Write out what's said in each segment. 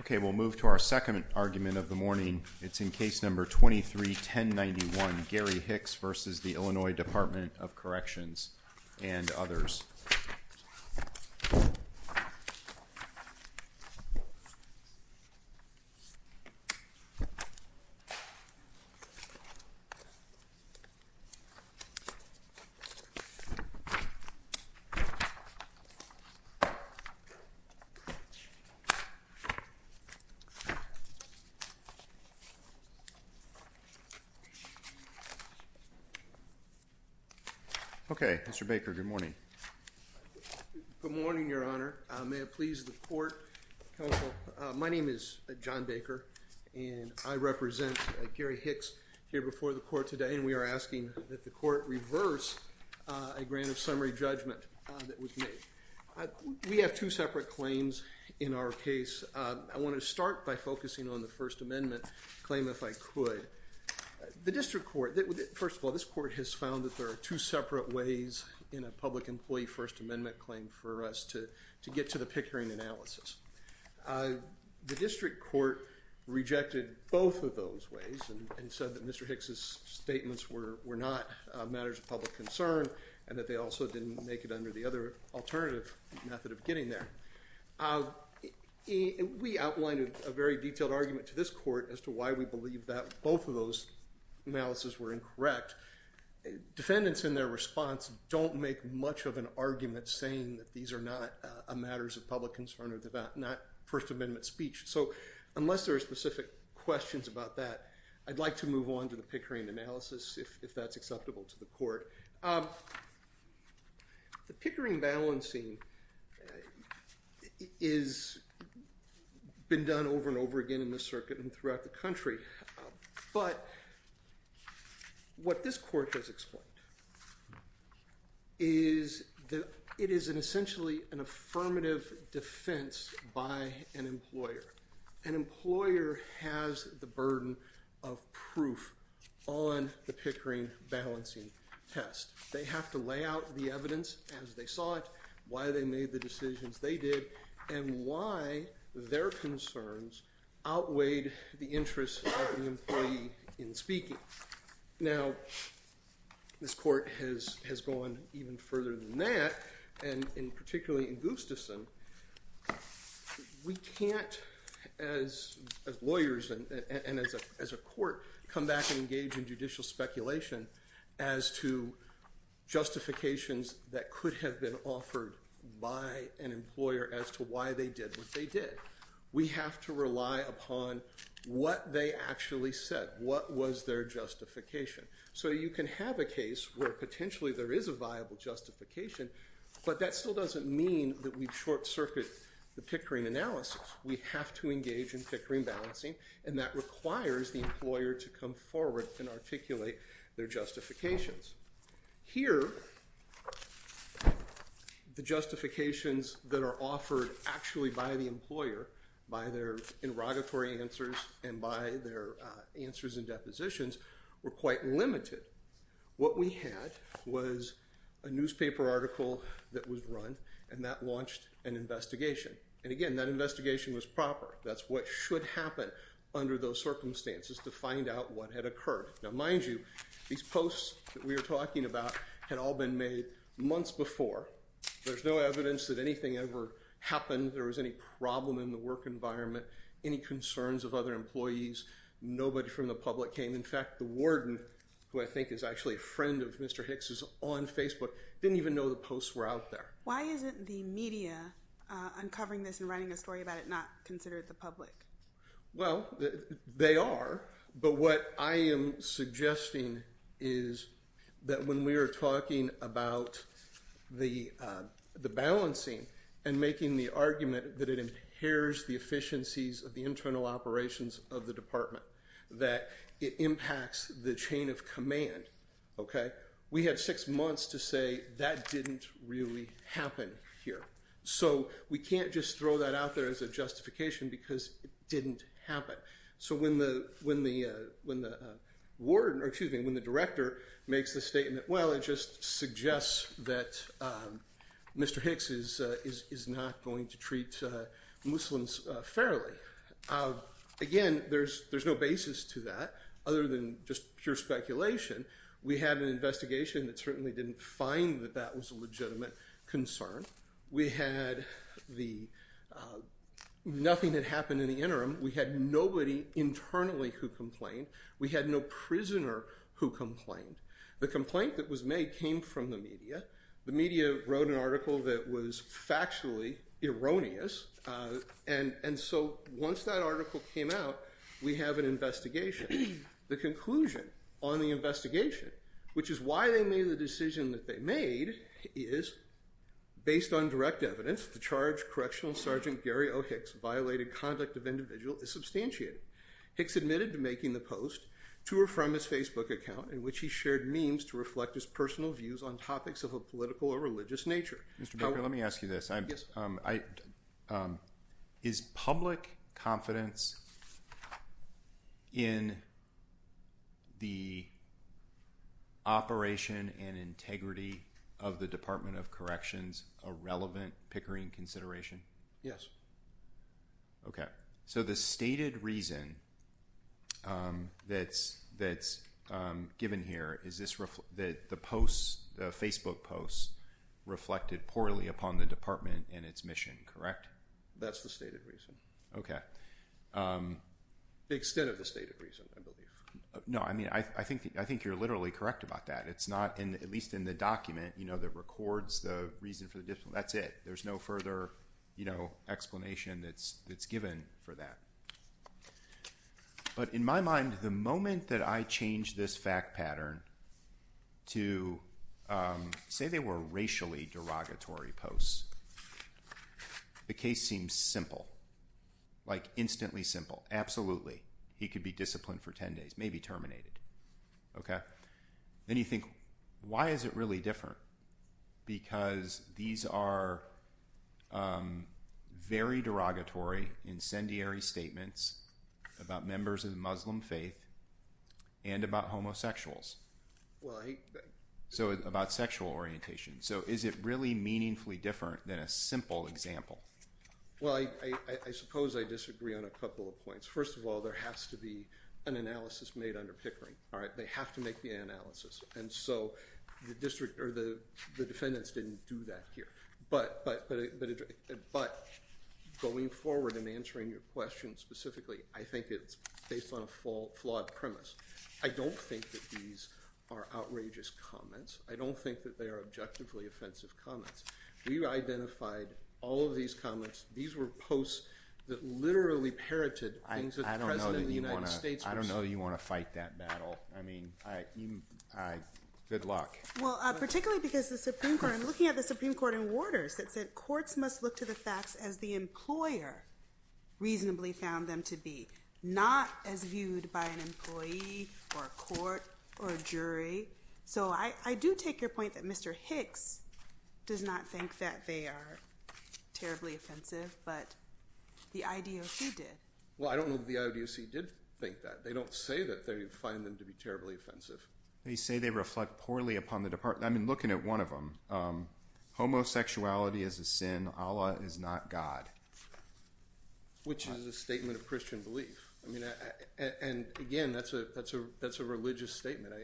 Okay, we'll move to our second argument of the morning. It's in case number 23-1091, Gary Hicks v. Illinois Department of Corrections and others. Okay, Mr. Baker, good morning. We have two separate claims in our case. I want to start by focusing on the First Amendment claim, if I could. The district court, first of all, this court has found that there are two separate ways in a public employee First Amendment claim for us to get to the pickering analysis. The district court rejected both of those ways and said that Mr. Hicks' statements were not matters of public concern and that they also didn't make it under the other alternative method of getting there. We outlined a very detailed argument to this court as to why we believe that both of those analyses were incorrect. Defendants in their response don't make much of an argument saying that these are not matters of public concern or First Amendment speech. So unless there are specific questions about that, I'd like to move on to the pickering analysis if that's acceptable to the court. The pickering balancing has been done over and over again in this circuit and throughout the country. But what this court has explained is that it is essentially an affirmative defense by an employer. An employer has the burden of proof on the pickering balancing test. They have to lay out the evidence as they saw it, why they made the decisions they did, and why their concerns outweighed the interest of the employee in speaking. Now, this court has gone even further than that, and particularly in Gustafson. We can't, as lawyers and as a court, come back and engage in judicial speculation as to justifications that could have been offered by an employer as to why they did what they did. We have to rely upon what they actually said, what was their justification. So you can have a case where potentially there is a viable justification, but that still doesn't mean that we short-circuit the pickering analysis. We have to engage in pickering balancing, and that requires the employer to come forward and articulate their justifications. Here, the justifications that are offered actually by the employer, by their interrogatory answers and by their answers and depositions, were quite limited. What we had was a newspaper article that was run, and that launched an investigation. And again, that investigation was proper. That's what should happen under those circumstances to find out what had occurred. Now, mind you, these posts that we are talking about had all been made months before. There's no evidence that anything ever happened. There was any problem in the work environment, any concerns of other employees. Nobody from the public came. In fact, the warden, who I think is actually a friend of Mr. Hicks' on Facebook, didn't even know the posts were out there. Why isn't the media uncovering this and writing a story about it not considered the public? Well, they are, but what I am suggesting is that when we are talking about the balancing and making the argument that it impairs the efficiencies of the internal operations of the department, that it impacts the chain of command, okay, we had six months to say that didn't really happen here. So we can't just throw that out there as a justification because it didn't happen. So when the director makes the statement, well, it just suggests that Mr. Hicks is not going to treat Muslims fairly. Again, there's no basis to that other than just pure speculation. We had an investigation that certainly didn't find that that was a legitimate concern. We had nothing that happened in the interim. We had nobody internally who complained. We had no prisoner who complained. The complaint that was made came from the media. The media wrote an article that was factually erroneous, and so once that article came out, we have an investigation. The conclusion on the investigation, which is why they made the decision that they made, is based on direct evidence, the charge correctional sergeant Gary O. Hicks violated conduct of individual is substantiated. Hicks admitted to making the post to or from his Facebook account in which he shared memes to reflect his personal views on topics of a political or religious nature. Mr. Baker, let me ask you this. Is public confidence in the operation and integrity of the Department of Corrections a relevant Pickering consideration? Yes. Okay. So the stated reason that's given here is that the Facebook posts reflected poorly upon the department and its mission, correct? That's the stated reason. Okay. The extent of the stated reason, I believe. No, I mean, I think you're literally correct about that. It's not, at least in the document that records the reason for the, that's it. There's no further, you know, explanation that's given for that. But in my mind, the moment that I change this fact pattern to say they were racially derogatory posts, the case seems simple, like instantly simple. Absolutely. He could be disciplined for 10 days, maybe terminated. Okay. Then you think, why is it really different? Because these are very derogatory, incendiary statements about members of the Muslim faith and about homosexuals. So about sexual orientation. So is it really meaningfully different than a simple example? Well, I suppose I disagree on a couple of points. First of all, there has to be an analysis made under Pickering, all right? They have to make the analysis. And so the district or the defendants didn't do that here. But going forward and answering your question specifically, I think it's based on a flawed premise. I don't think that these are outrageous comments. I don't think that they are objectively offensive comments. We identified all of these comments. These were posts that literally parroted things that the President of the United States was saying. I know you want to fight that battle. I mean, good luck. Well, particularly because the Supreme Court, I'm looking at the Supreme Court in Waters that said courts must look to the facts as the employer reasonably found them to be, not as viewed by an employee or a court or a jury. So I do take your point that Mr. Hicks does not think that they are terribly offensive, but the IDOC did. Well, I don't know that the IDOC did think that. They don't say that they find them to be terribly offensive. They say they reflect poorly upon the department. I've been looking at one of them. Homosexuality is a sin. Allah is not God. Which is a statement of Christian belief. And again, that's a religious statement.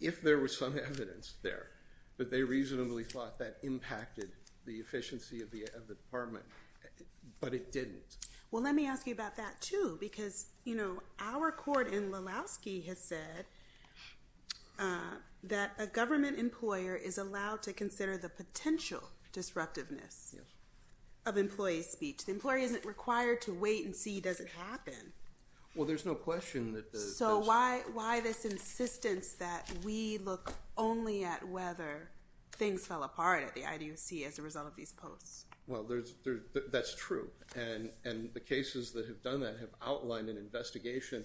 If there was some evidence there that they reasonably thought that impacted the efficiency of the department, but it didn't. Well, let me ask you about that, too, because, you know, our court in Lulowski has said that a government employer is allowed to consider the potential disruptiveness of employee speech. The employee isn't required to wait and see, does it happen? Well, there's no question. So why this insistence that we look only at whether things fell apart at the IDOC as a result of these posts? Well, that's true. And the cases that have done that have outlined an investigation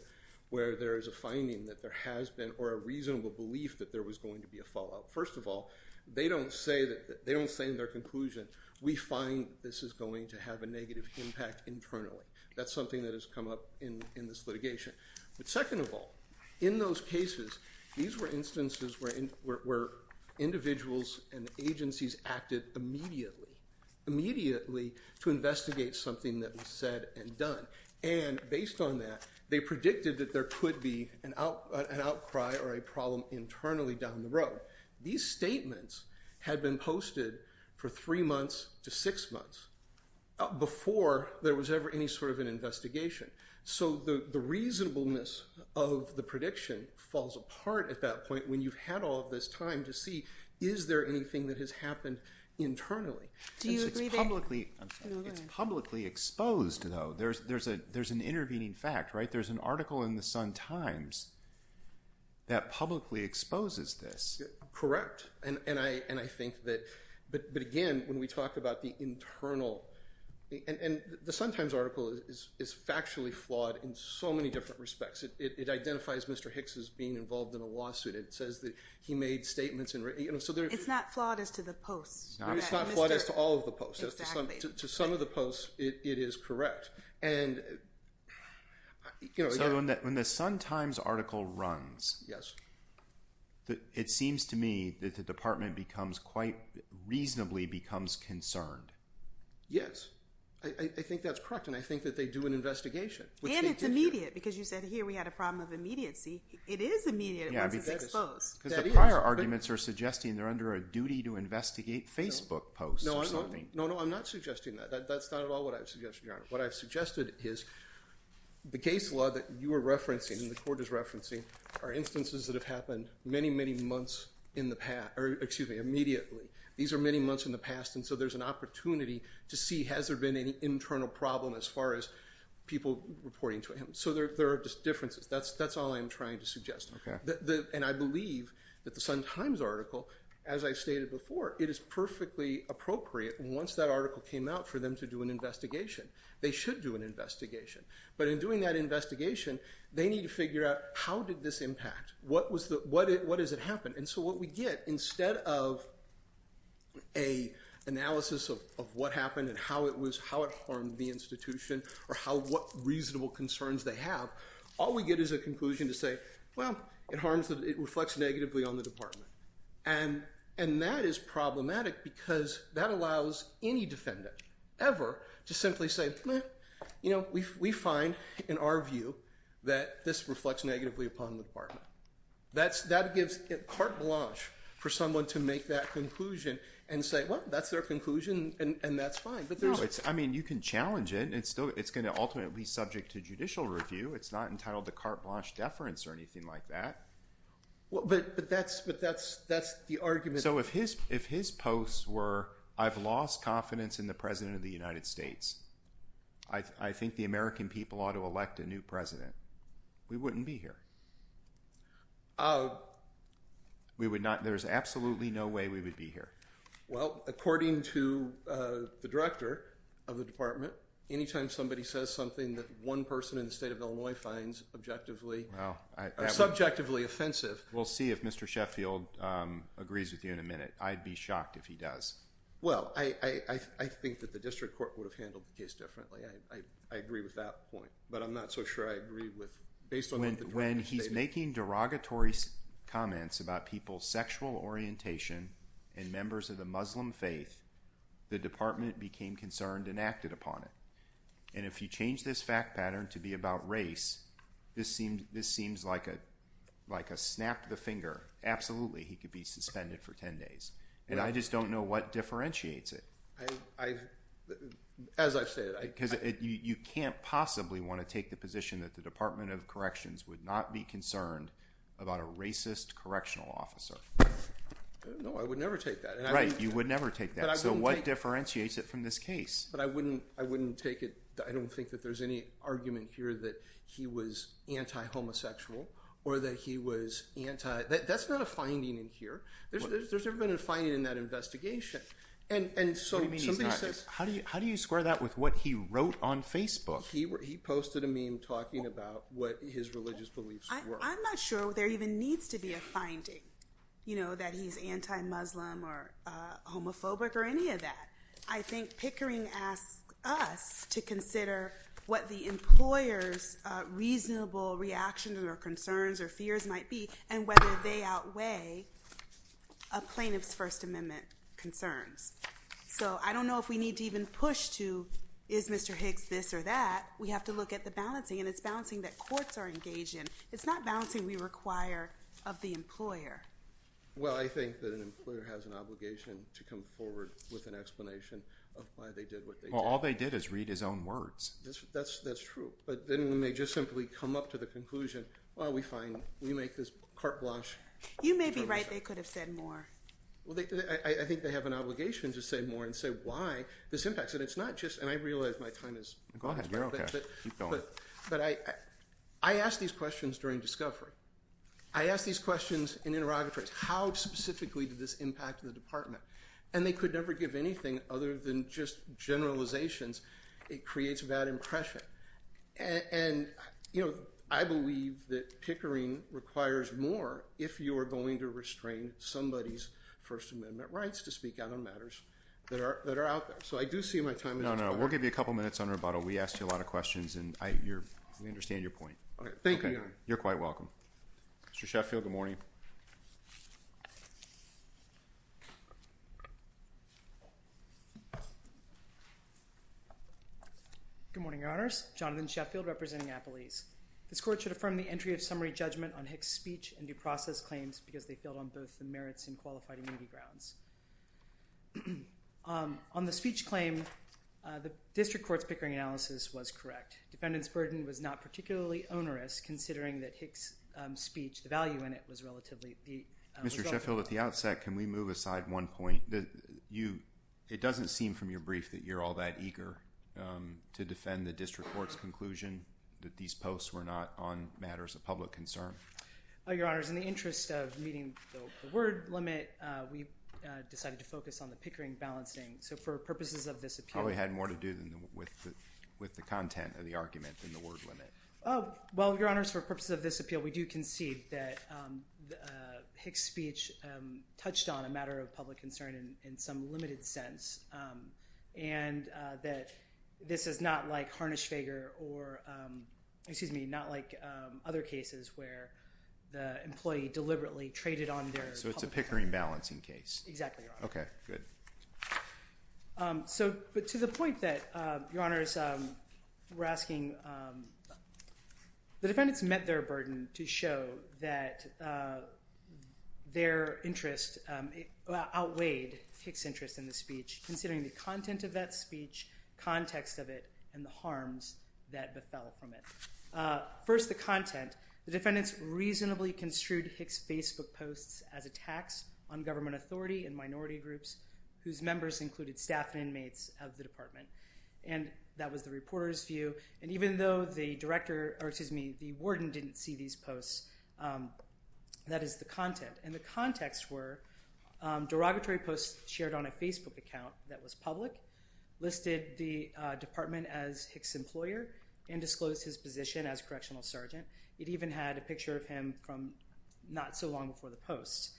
where there is a finding that there has been or a reasonable belief that there was going to be a fallout. First of all, they don't say in their conclusion, we find this is going to have a negative impact internally. That's something that has come up in this litigation. But second of all, in those cases, these were instances where individuals and agencies acted immediately, immediately to investigate something that was said and done. And based on that, they predicted that there could be an outcry or a problem internally down the road. These statements had been posted for three months to six months before there was ever any sort of an investigation. So the reasonableness of the prediction falls apart at that point when you've had all this time to see, is there anything that has happened internally? It's publicly exposed, though. There's an intervening fact, right? There's an article in the Sun-Times that publicly exposes this. Correct. But again, when we talk about the internal – and the Sun-Times article is factually flawed in so many different respects. It identifies Mr. Hicks as being involved in a lawsuit. It says that he made statements. It's not flawed as to the posts. It's not flawed as to all of the posts. To some of the posts, it is correct. So when the Sun-Times article runs, it seems to me that the department becomes quite – reasonably becomes concerned. Yes. I think that's correct, and I think that they do an investigation. And it's immediate because you said here we had a problem of immediacy. It is immediate unless it's exposed. Because the prior arguments are suggesting they're under a duty to investigate Facebook posts or something. No, I'm not suggesting that. That's not at all what I've suggested, Your Honor. What I've suggested is the case law that you are referencing and the court is referencing are instances that have happened many, many months in the past – or, excuse me, immediately. These are many months in the past, and so there's an opportunity to see has there been any internal problem as far as people reporting to him. So there are just differences. That's all I'm trying to suggest. Okay. And I believe that the Sun-Times article, as I stated before, it is perfectly appropriate once that article came out for them to do an investigation. They should do an investigation. But in doing that investigation, they need to figure out how did this impact? What was the – what is it happened? And so what we get instead of an analysis of what happened and how it was – how it harmed the institution or how – what reasonable concerns they have, all we get is a conclusion to say, well, it harms – it reflects negatively on the department, and that is problematic because that allows any defendant ever to simply say, well, you know, we find in our view that this reflects negatively upon the department. That gives carte blanche for someone to make that conclusion and say, well, that's their conclusion and that's fine. No, it's – I mean you can challenge it. It's still – it's going to ultimately be subject to judicial review. It's not entitled to carte blanche deference or anything like that. But that's the argument. So if his posts were, I've lost confidence in the President of the United States. I think the American people ought to elect a new president. We wouldn't be here. We would not – there's absolutely no way we would be here. Well, according to the director of the department, anytime somebody says something that one person in the state of Illinois finds objectively – Well, I – Subjectively offensive. We'll see if Mr. Sheffield agrees with you in a minute. I'd be shocked if he does. Well, I think that the district court would have handled the case differently. I agree with that point, but I'm not so sure I agree with – based on what the director stated. When he's making derogatory comments about people's sexual orientation and members of the Muslim faith, the department became concerned and acted upon it. And if you change this fact pattern to be about race, this seems like a snap of the finger. Absolutely, he could be suspended for 10 days. And I just don't know what differentiates it. As I've said – Because you can't possibly want to take the position that the Department of Corrections would not be concerned about a racist correctional officer. No, I would never take that. Right, you would never take that. So what differentiates it from this case? But I wouldn't take it – I don't think that there's any argument here that he was anti-homosexual or that he was anti – that's not a finding in here. There's never been a finding in that investigation. What do you mean he's not? How do you square that with what he wrote on Facebook? He posted a meme talking about what his religious beliefs were. I'm not sure there even needs to be a finding, you know, that he's anti-Muslim or homophobic or any of that. I think Pickering asks us to consider what the employer's reasonable reactions or concerns or fears might be and whether they outweigh a plaintiff's First Amendment concerns. So I don't know if we need to even push to is Mr. Hicks this or that. We have to look at the balancing, and it's balancing that courts are engaged in. It's not balancing we require of the employer. Well, I think that an employer has an obligation to come forward with an explanation of why they did what they did. Well, all they did is read his own words. That's true. But then we may just simply come up to the conclusion, well, we find – we make this carte blanche. You may be right. They could have said more. Well, I think they have an obligation to say more and say why this impacts. And it's not just – and I realize my time is – Go ahead. You're okay. Keep going. But I ask these questions during discovery. I ask these questions in interrogatories. How specifically did this impact the department? And they could never give anything other than just generalizations. It creates a bad impression. And, you know, I believe that pickering requires more if you are going to restrain somebody's First Amendment rights to speak out on matters that are out there. So I do see my time is up. No, no. We'll give you a couple minutes on rebuttal. We asked you a lot of questions, and we understand your point. Thank you. Thank you. You're quite welcome. Mr. Sheffield, good morning. Good morning, Your Honors. Jonathan Sheffield representing Appalese. This Court should affirm the entry of summary judgment on Hicks' speech and due process claims because they failed on both the merits and qualified immunity grounds. On the speech claim, the district court's pickering analysis was correct. Defendant's burden was not particularly onerous considering that Hicks' speech, the value in it, was relatively low. Mr. Sheffield, at the outset, can we move aside one point? It doesn't seem from your brief that you're all that eager to defend the district court's conclusion that these posts were not on matters of public concern. Your Honors, in the interest of meeting the word limit, we decided to focus on the pickering balancing. It probably had more to do with the content of the argument than the word limit. Well, Your Honors, for purposes of this appeal, we do concede that Hicks' speech touched on a matter of public concern in some limited sense and that this is not like Harnisch-Feger or, excuse me, not like other cases where the employee deliberately traded on their public concern. So it's a pickering balancing case. Exactly, Your Honor. Okay, good. So to the point that Your Honors were asking, the defendants met their burden to show that their interest outweighed Hicks' interest in the speech considering the content of that speech, context of it, and the harms that befell from it. First, the content. The defendants reasonably construed Hicks' Facebook posts as attacks on government authority and minority groups, whose members included staff and inmates of the department. And that was the reporter's view. And even though the warden didn't see these posts, that is the content. And the contexts were derogatory posts shared on a Facebook account that was public, listed the department as Hicks' employer, and disclosed his position as correctional sergeant. It even had a picture of him from not so long before the post.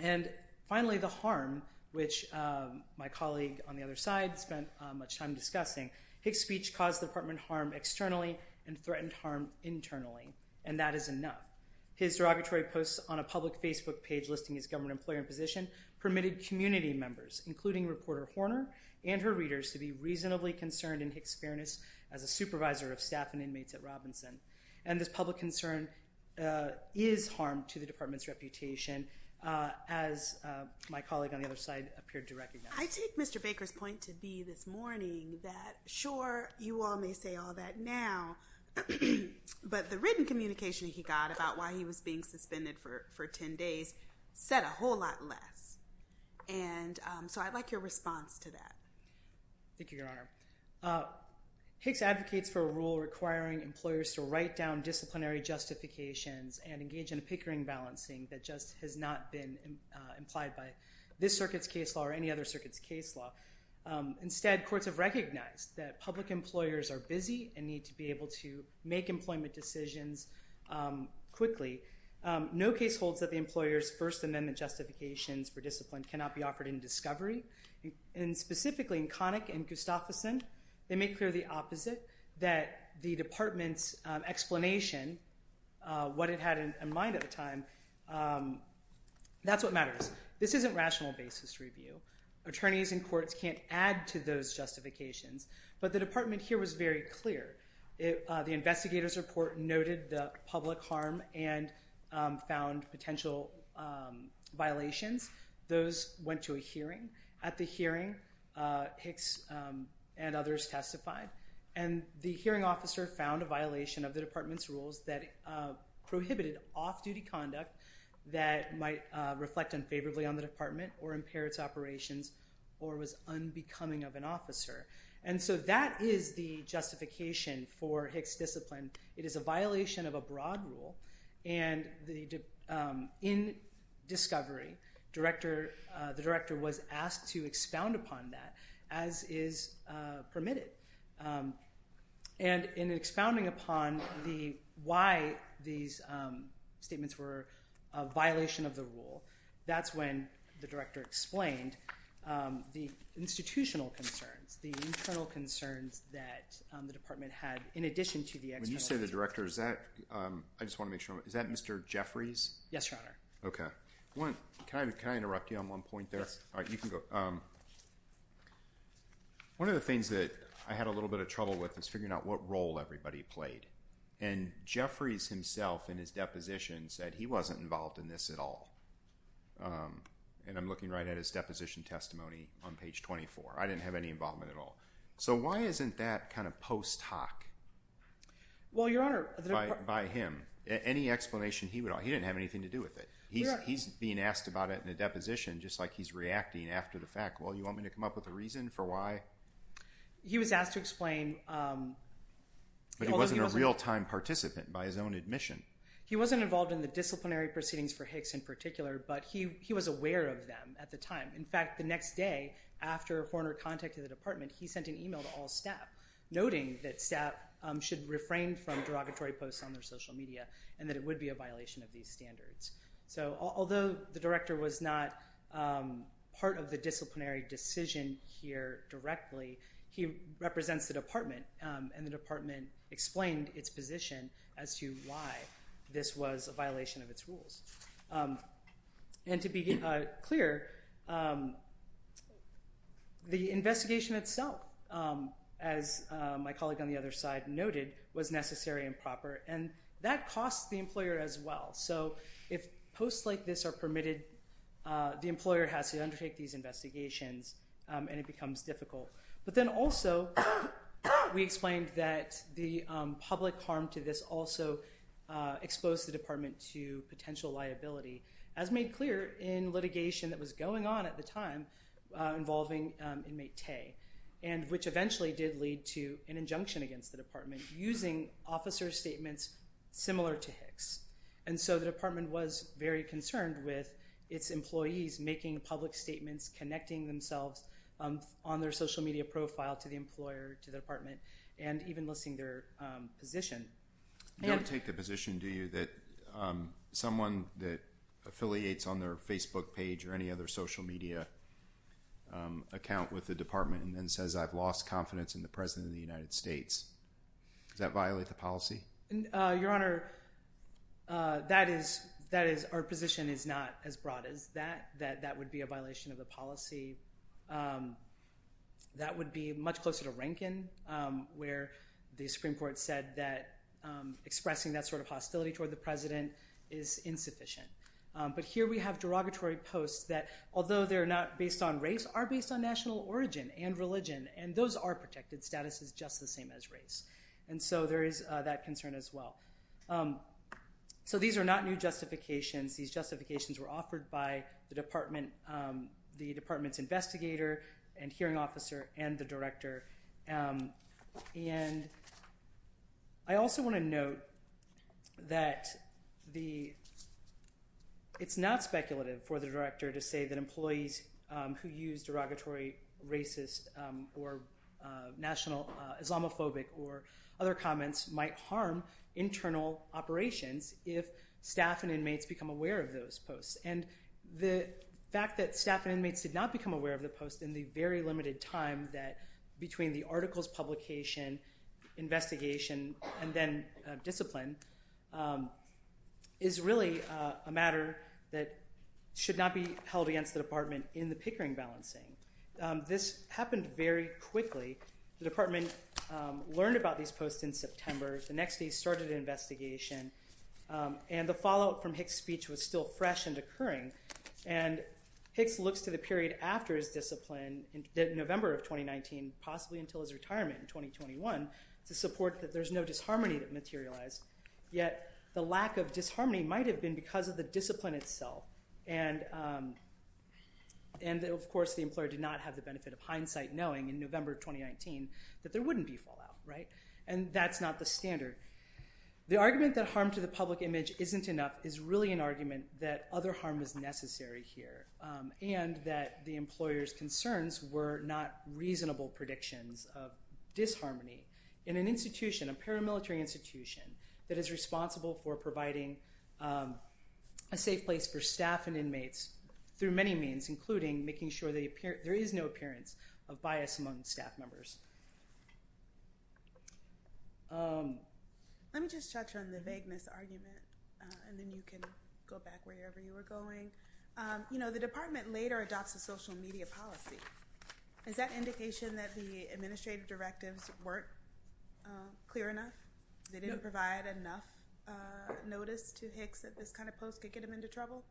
And finally, the harm, which my colleague on the other side spent much time discussing. Hicks' speech caused the department harm externally and threatened harm internally. And that is enough. His derogatory posts on a public Facebook page listing his government employer and position permitted community members, including reporter Horner and her readers, to be reasonably concerned in Hicks' fairness as a supervisor of staff and inmates at Robinson. And this public concern is harm to the department's reputation, as my colleague on the other side appeared to recognize. I take Mr. Baker's point to be this morning that, sure, you all may say all that now, but the written communication he got about why he was being suspended for 10 days said a whole lot less. And so I'd like your response to that. Thank you, Your Honor. Hicks advocates for a rule requiring employers to write down disciplinary justifications and engage in a pickering balancing that just has not been implied by this circuit's case law or any other circuit's case law. Instead, courts have recognized that public employers are busy and need to be able to make employment decisions quickly. No case holds that the employer's First Amendment justifications for discipline cannot be offered in discovery. And specifically in Connick and Gustafsson, they make clear the opposite, that the department's explanation, what it had in mind at the time, that's what matters. This isn't rational basis review. Attorneys in courts can't add to those justifications. But the department here was very clear. The investigator's report noted the public harm and found potential violations. Those went to a hearing. At the hearing, Hicks and others testified. And the hearing officer found a violation of the department's rules that prohibited off-duty conduct that might reflect unfavorably on the department or impair its operations or was unbecoming of an officer. And so that is the justification for Hicks' discipline. It is a violation of a broad rule. And in discovery, the director was asked to expound upon that, as is permitted. And in expounding upon why these statements were a violation of the rule, that's when the director explained the institutional concerns, the internal concerns that the department had in addition to the external concerns. When you say the director, is that Mr. Jeffries? Yes, Your Honor. Okay. Can I interrupt you on one point there? Yes. All right, you can go. One of the things that I had a little bit of trouble with is figuring out what role everybody played. And Jeffries himself in his deposition said he wasn't involved in this at all. And I'm looking right at his deposition testimony on page 24. I didn't have any involvement at all. So why isn't that kind of post hoc by him? Any explanation he would offer. He didn't have anything to do with it. He's being asked about it in a deposition, just like he's reacting after the fact. Well, you want me to come up with a reason for why? He was asked to explain. But he wasn't a real-time participant by his own admission. He wasn't involved in the disciplinary proceedings for Hicks in particular, but he was aware of them at the time. In fact, the next day after a foreigner contacted the department, he sent an email to all staff, noting that staff should refrain from derogatory posts on their social media and that it would be a violation of these standards. So although the director was not part of the disciplinary decision here directly, he represents the department, and the department explained its position as to why this was a violation of its rules. And to be clear, the investigation itself, as my colleague on the other side noted, was necessary and proper. And that costs the employer as well. So if posts like this are permitted, the employer has to undertake these investigations, and it becomes difficult. But then also we explained that the public harm to this also exposed the department to potential liability, as made clear in litigation that was going on at the time involving inmate Tay, using officer statements similar to Hicks. And so the department was very concerned with its employees making public statements, connecting themselves on their social media profile to the employer, to the department, and even listing their position. You don't take the position, do you, that someone that affiliates on their Facebook page or any other social media account with the department and then says, I've lost confidence in the President of the United States. Does that violate the policy? Your Honor, that is, our position is not as broad as that. That would be a violation of the policy. That would be much closer to Rankin, where the Supreme Court said that expressing that sort of hostility toward the President is insufficient. But here we have derogatory posts that, although they're not based on race, are based on national origin and religion, and those are protected. Status is just the same as race. And so there is that concern as well. So these are not new justifications. These justifications were offered by the department's investigator and hearing officer and the director. And I also want to note that it's not speculative for the director to say that employees who use derogatory racist or national Islamophobic or other comments might harm internal operations if staff and inmates become aware of those posts. And the fact that staff and inmates did not become aware of the post in the very limited time that between the article's publication, investigation, and then discipline, is really a matter that should not be held against the department in the Pickering balancing. This happened very quickly. The department learned about these posts in September. The next day started an investigation. And the follow-up from Hicks' speech was still fresh and occurring. And Hicks looks to the period after his discipline, November of 2019, possibly until his retirement in 2021, to support that there's no disharmony that materialized. Yet the lack of disharmony might have been because of the discipline itself. And, of course, the employer did not have the benefit of hindsight knowing in November of 2019 that there wouldn't be fallout, right? And that's not the standard. The argument that harm to the public image isn't enough is really an argument that other harm is necessary here and that the employer's concerns were not reasonable predictions of disharmony. In an institution, a paramilitary institution, that is responsible for providing a safe place for staff and inmates through many means, including making sure there is no appearance of bias among staff members. Let me just touch on the vagueness argument, and then you can go back wherever you were going. You know, the department later adopts a social media policy. Is that indication that the administrative directives weren't clear enough? They didn't provide enough notice to Hicks that this kind of post could get him into trouble?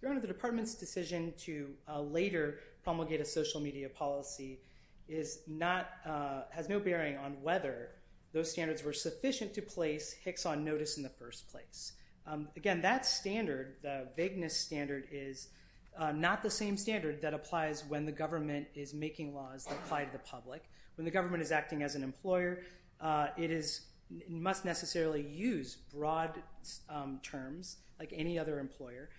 Your Honor, the department's decision to later promulgate a social media policy has no bearing on whether those standards were sufficient to place Hicks on notice in the first place. Again, that standard, the vagueness standard, is not the same standard that applies when the government is making laws that apply to the public. When the government is acting as an employer, it must necessarily use broad terms like any other employer.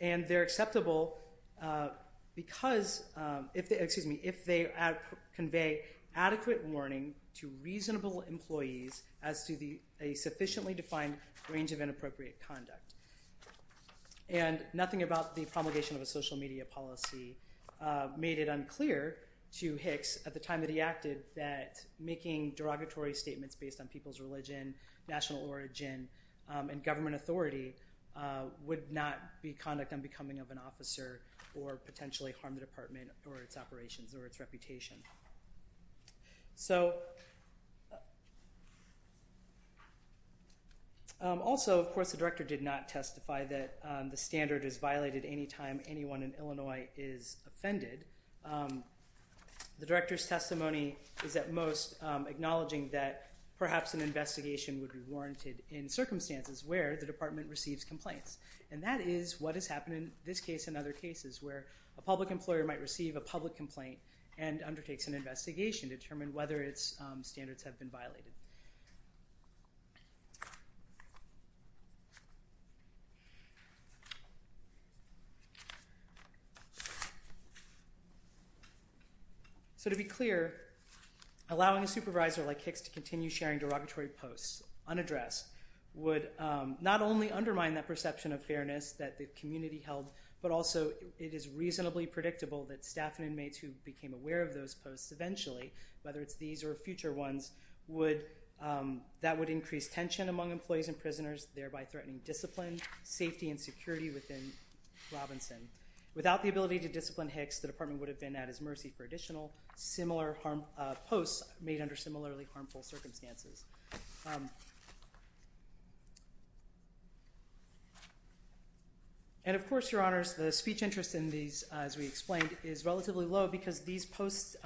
And they're acceptable because, excuse me, if they convey adequate warning to reasonable employees as to a sufficiently defined range of inappropriate conduct. And nothing about the promulgation of a social media policy made it unclear to Hicks at the time that he acted that making derogatory statements based on people's religion, national origin, and government authority would not be conduct on becoming of an officer or potentially harm the department or its operations or its reputation. So also, of course, the director did not testify that the standard is violated any time anyone in Illinois is offended. The director's testimony is at most acknowledging that perhaps an investigation would be warranted in circumstances where the department receives complaints. And that is what has happened in this case and other cases where a public employer might receive a public complaint and undertakes an investigation to determine whether its standards have been violated. So to be clear, allowing a supervisor like Hicks to continue sharing derogatory posts unaddressed would not only undermine that perception of fairness that the community held, but also it is reasonably predictable that staff and inmates who became aware of those posts eventually, whether it's these or future ones, that would increase tension among employees and prisoners, thereby threatening discipline, safety, and security within Robinson. Without the ability to discipline Hicks, the department would have been at his mercy for additional similar posts made under similarly harmful circumstances. And of course, Your Honors, the speech interest in these, as we explained, is relatively low because these posts,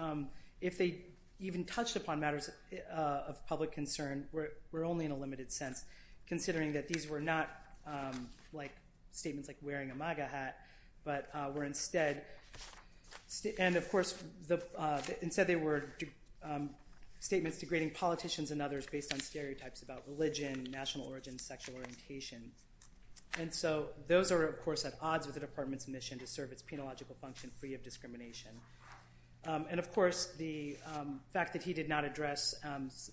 if they even touched upon matters of public concern, were only in a limited sense, considering that these were not statements like wearing a MAGA hat, but were instead, and of course, instead they were statements degrading politicians and others based on stereotypes about religion, national origin, sexual orientation. And so those are, of course, at odds with the department's mission to serve its penological function free of discrimination. And of course, the fact that he did not address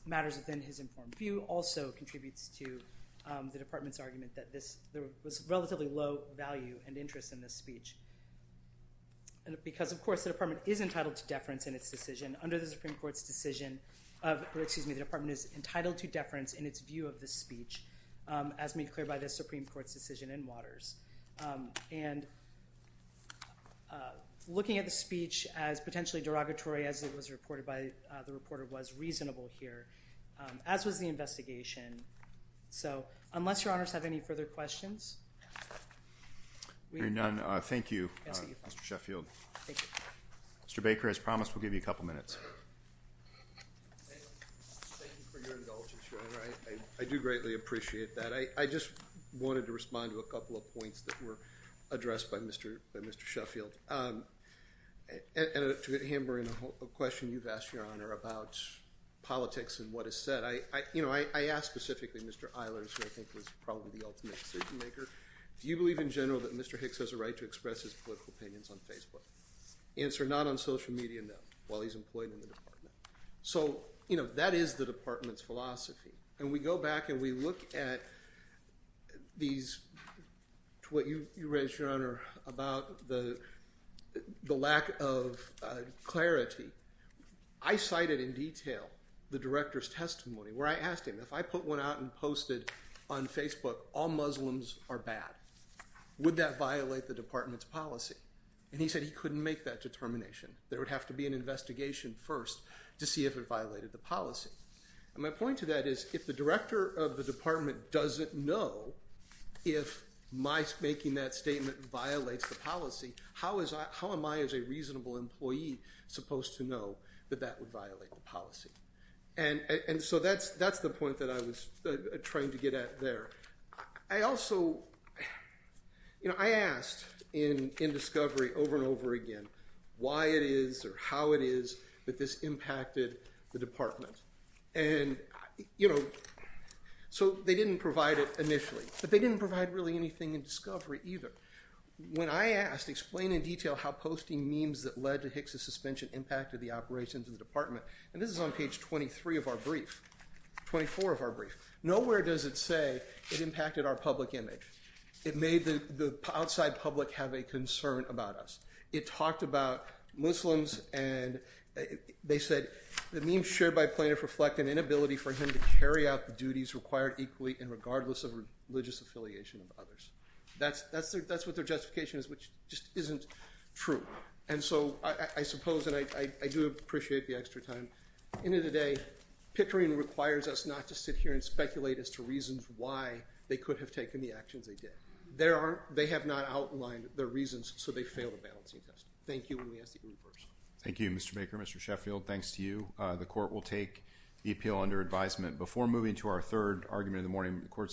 matters within his informed view also contributes to the department's argument that there was relatively low value and interest in this speech. Because, of course, the department is entitled to deference in its decision. Under the Supreme Court's decision, or excuse me, the department is entitled to deference in its view of the speech as made clear by the Supreme Court's decision in Waters. And looking at the speech as potentially derogatory as it was reported by the reporter was reasonable here, as was the investigation. So unless Your Honors have any further questions. Hearing none, thank you, Mr. Sheffield. Thank you. Mr. Baker, as promised, we'll give you a couple minutes. Thank you for your indulgence, Your Honor. I do greatly appreciate that. I just wanted to respond to a couple of points that were addressed by Mr. Sheffield. And to hammer in a question you've asked, Your Honor, about politics and what is said. You know, I asked specifically Mr. Eilers, who I think was probably the ultimate decision maker, do you believe in general that Mr. Hicks has a right to express his political opinions on Facebook? Answer, not on social media, no, while he's employed in the department. So, you know, that is the department's philosophy. And we go back and we look at these – to what you raised, Your Honor, about the lack of clarity. I cited in detail the director's testimony where I asked him, if I put one out and posted on Facebook, all Muslims are bad, would that violate the department's policy? And he said he couldn't make that determination. There would have to be an investigation first to see if it violated the policy. And my point to that is, if the director of the department doesn't know if my making that statement violates the policy, how am I, as a reasonable employee, supposed to know that that would violate the policy? And so that's the point that I was trying to get at there. I also – you know, I asked in discovery over and over again why it is or how it is that this impacted the department. And, you know, so they didn't provide it initially, but they didn't provide really anything in discovery either. When I asked, explain in detail how posting memes that led to Hicks's suspension impacted the operations of the department, and this is on page 23 of our brief, 24 of our brief, nowhere does it say it impacted our public image. It made the outside public have a concern about us. It talked about Muslims and they said the memes shared by plaintiff reflect an inability for him to carry out the duties required equally and regardless of religious affiliation of others. That's what their justification is, which just isn't true. And so I suppose, and I do appreciate the extra time, at the end of the day, picturing requires us not to sit here and speculate as to reasons why they could have taken the actions they did. They have not outlined their reasons, so they fail the balancing test. Thank you, and we ask that you leave first. Thank you, Mr. Baker. Mr. Sheffield, thanks to you. The court will take the appeal under advisement.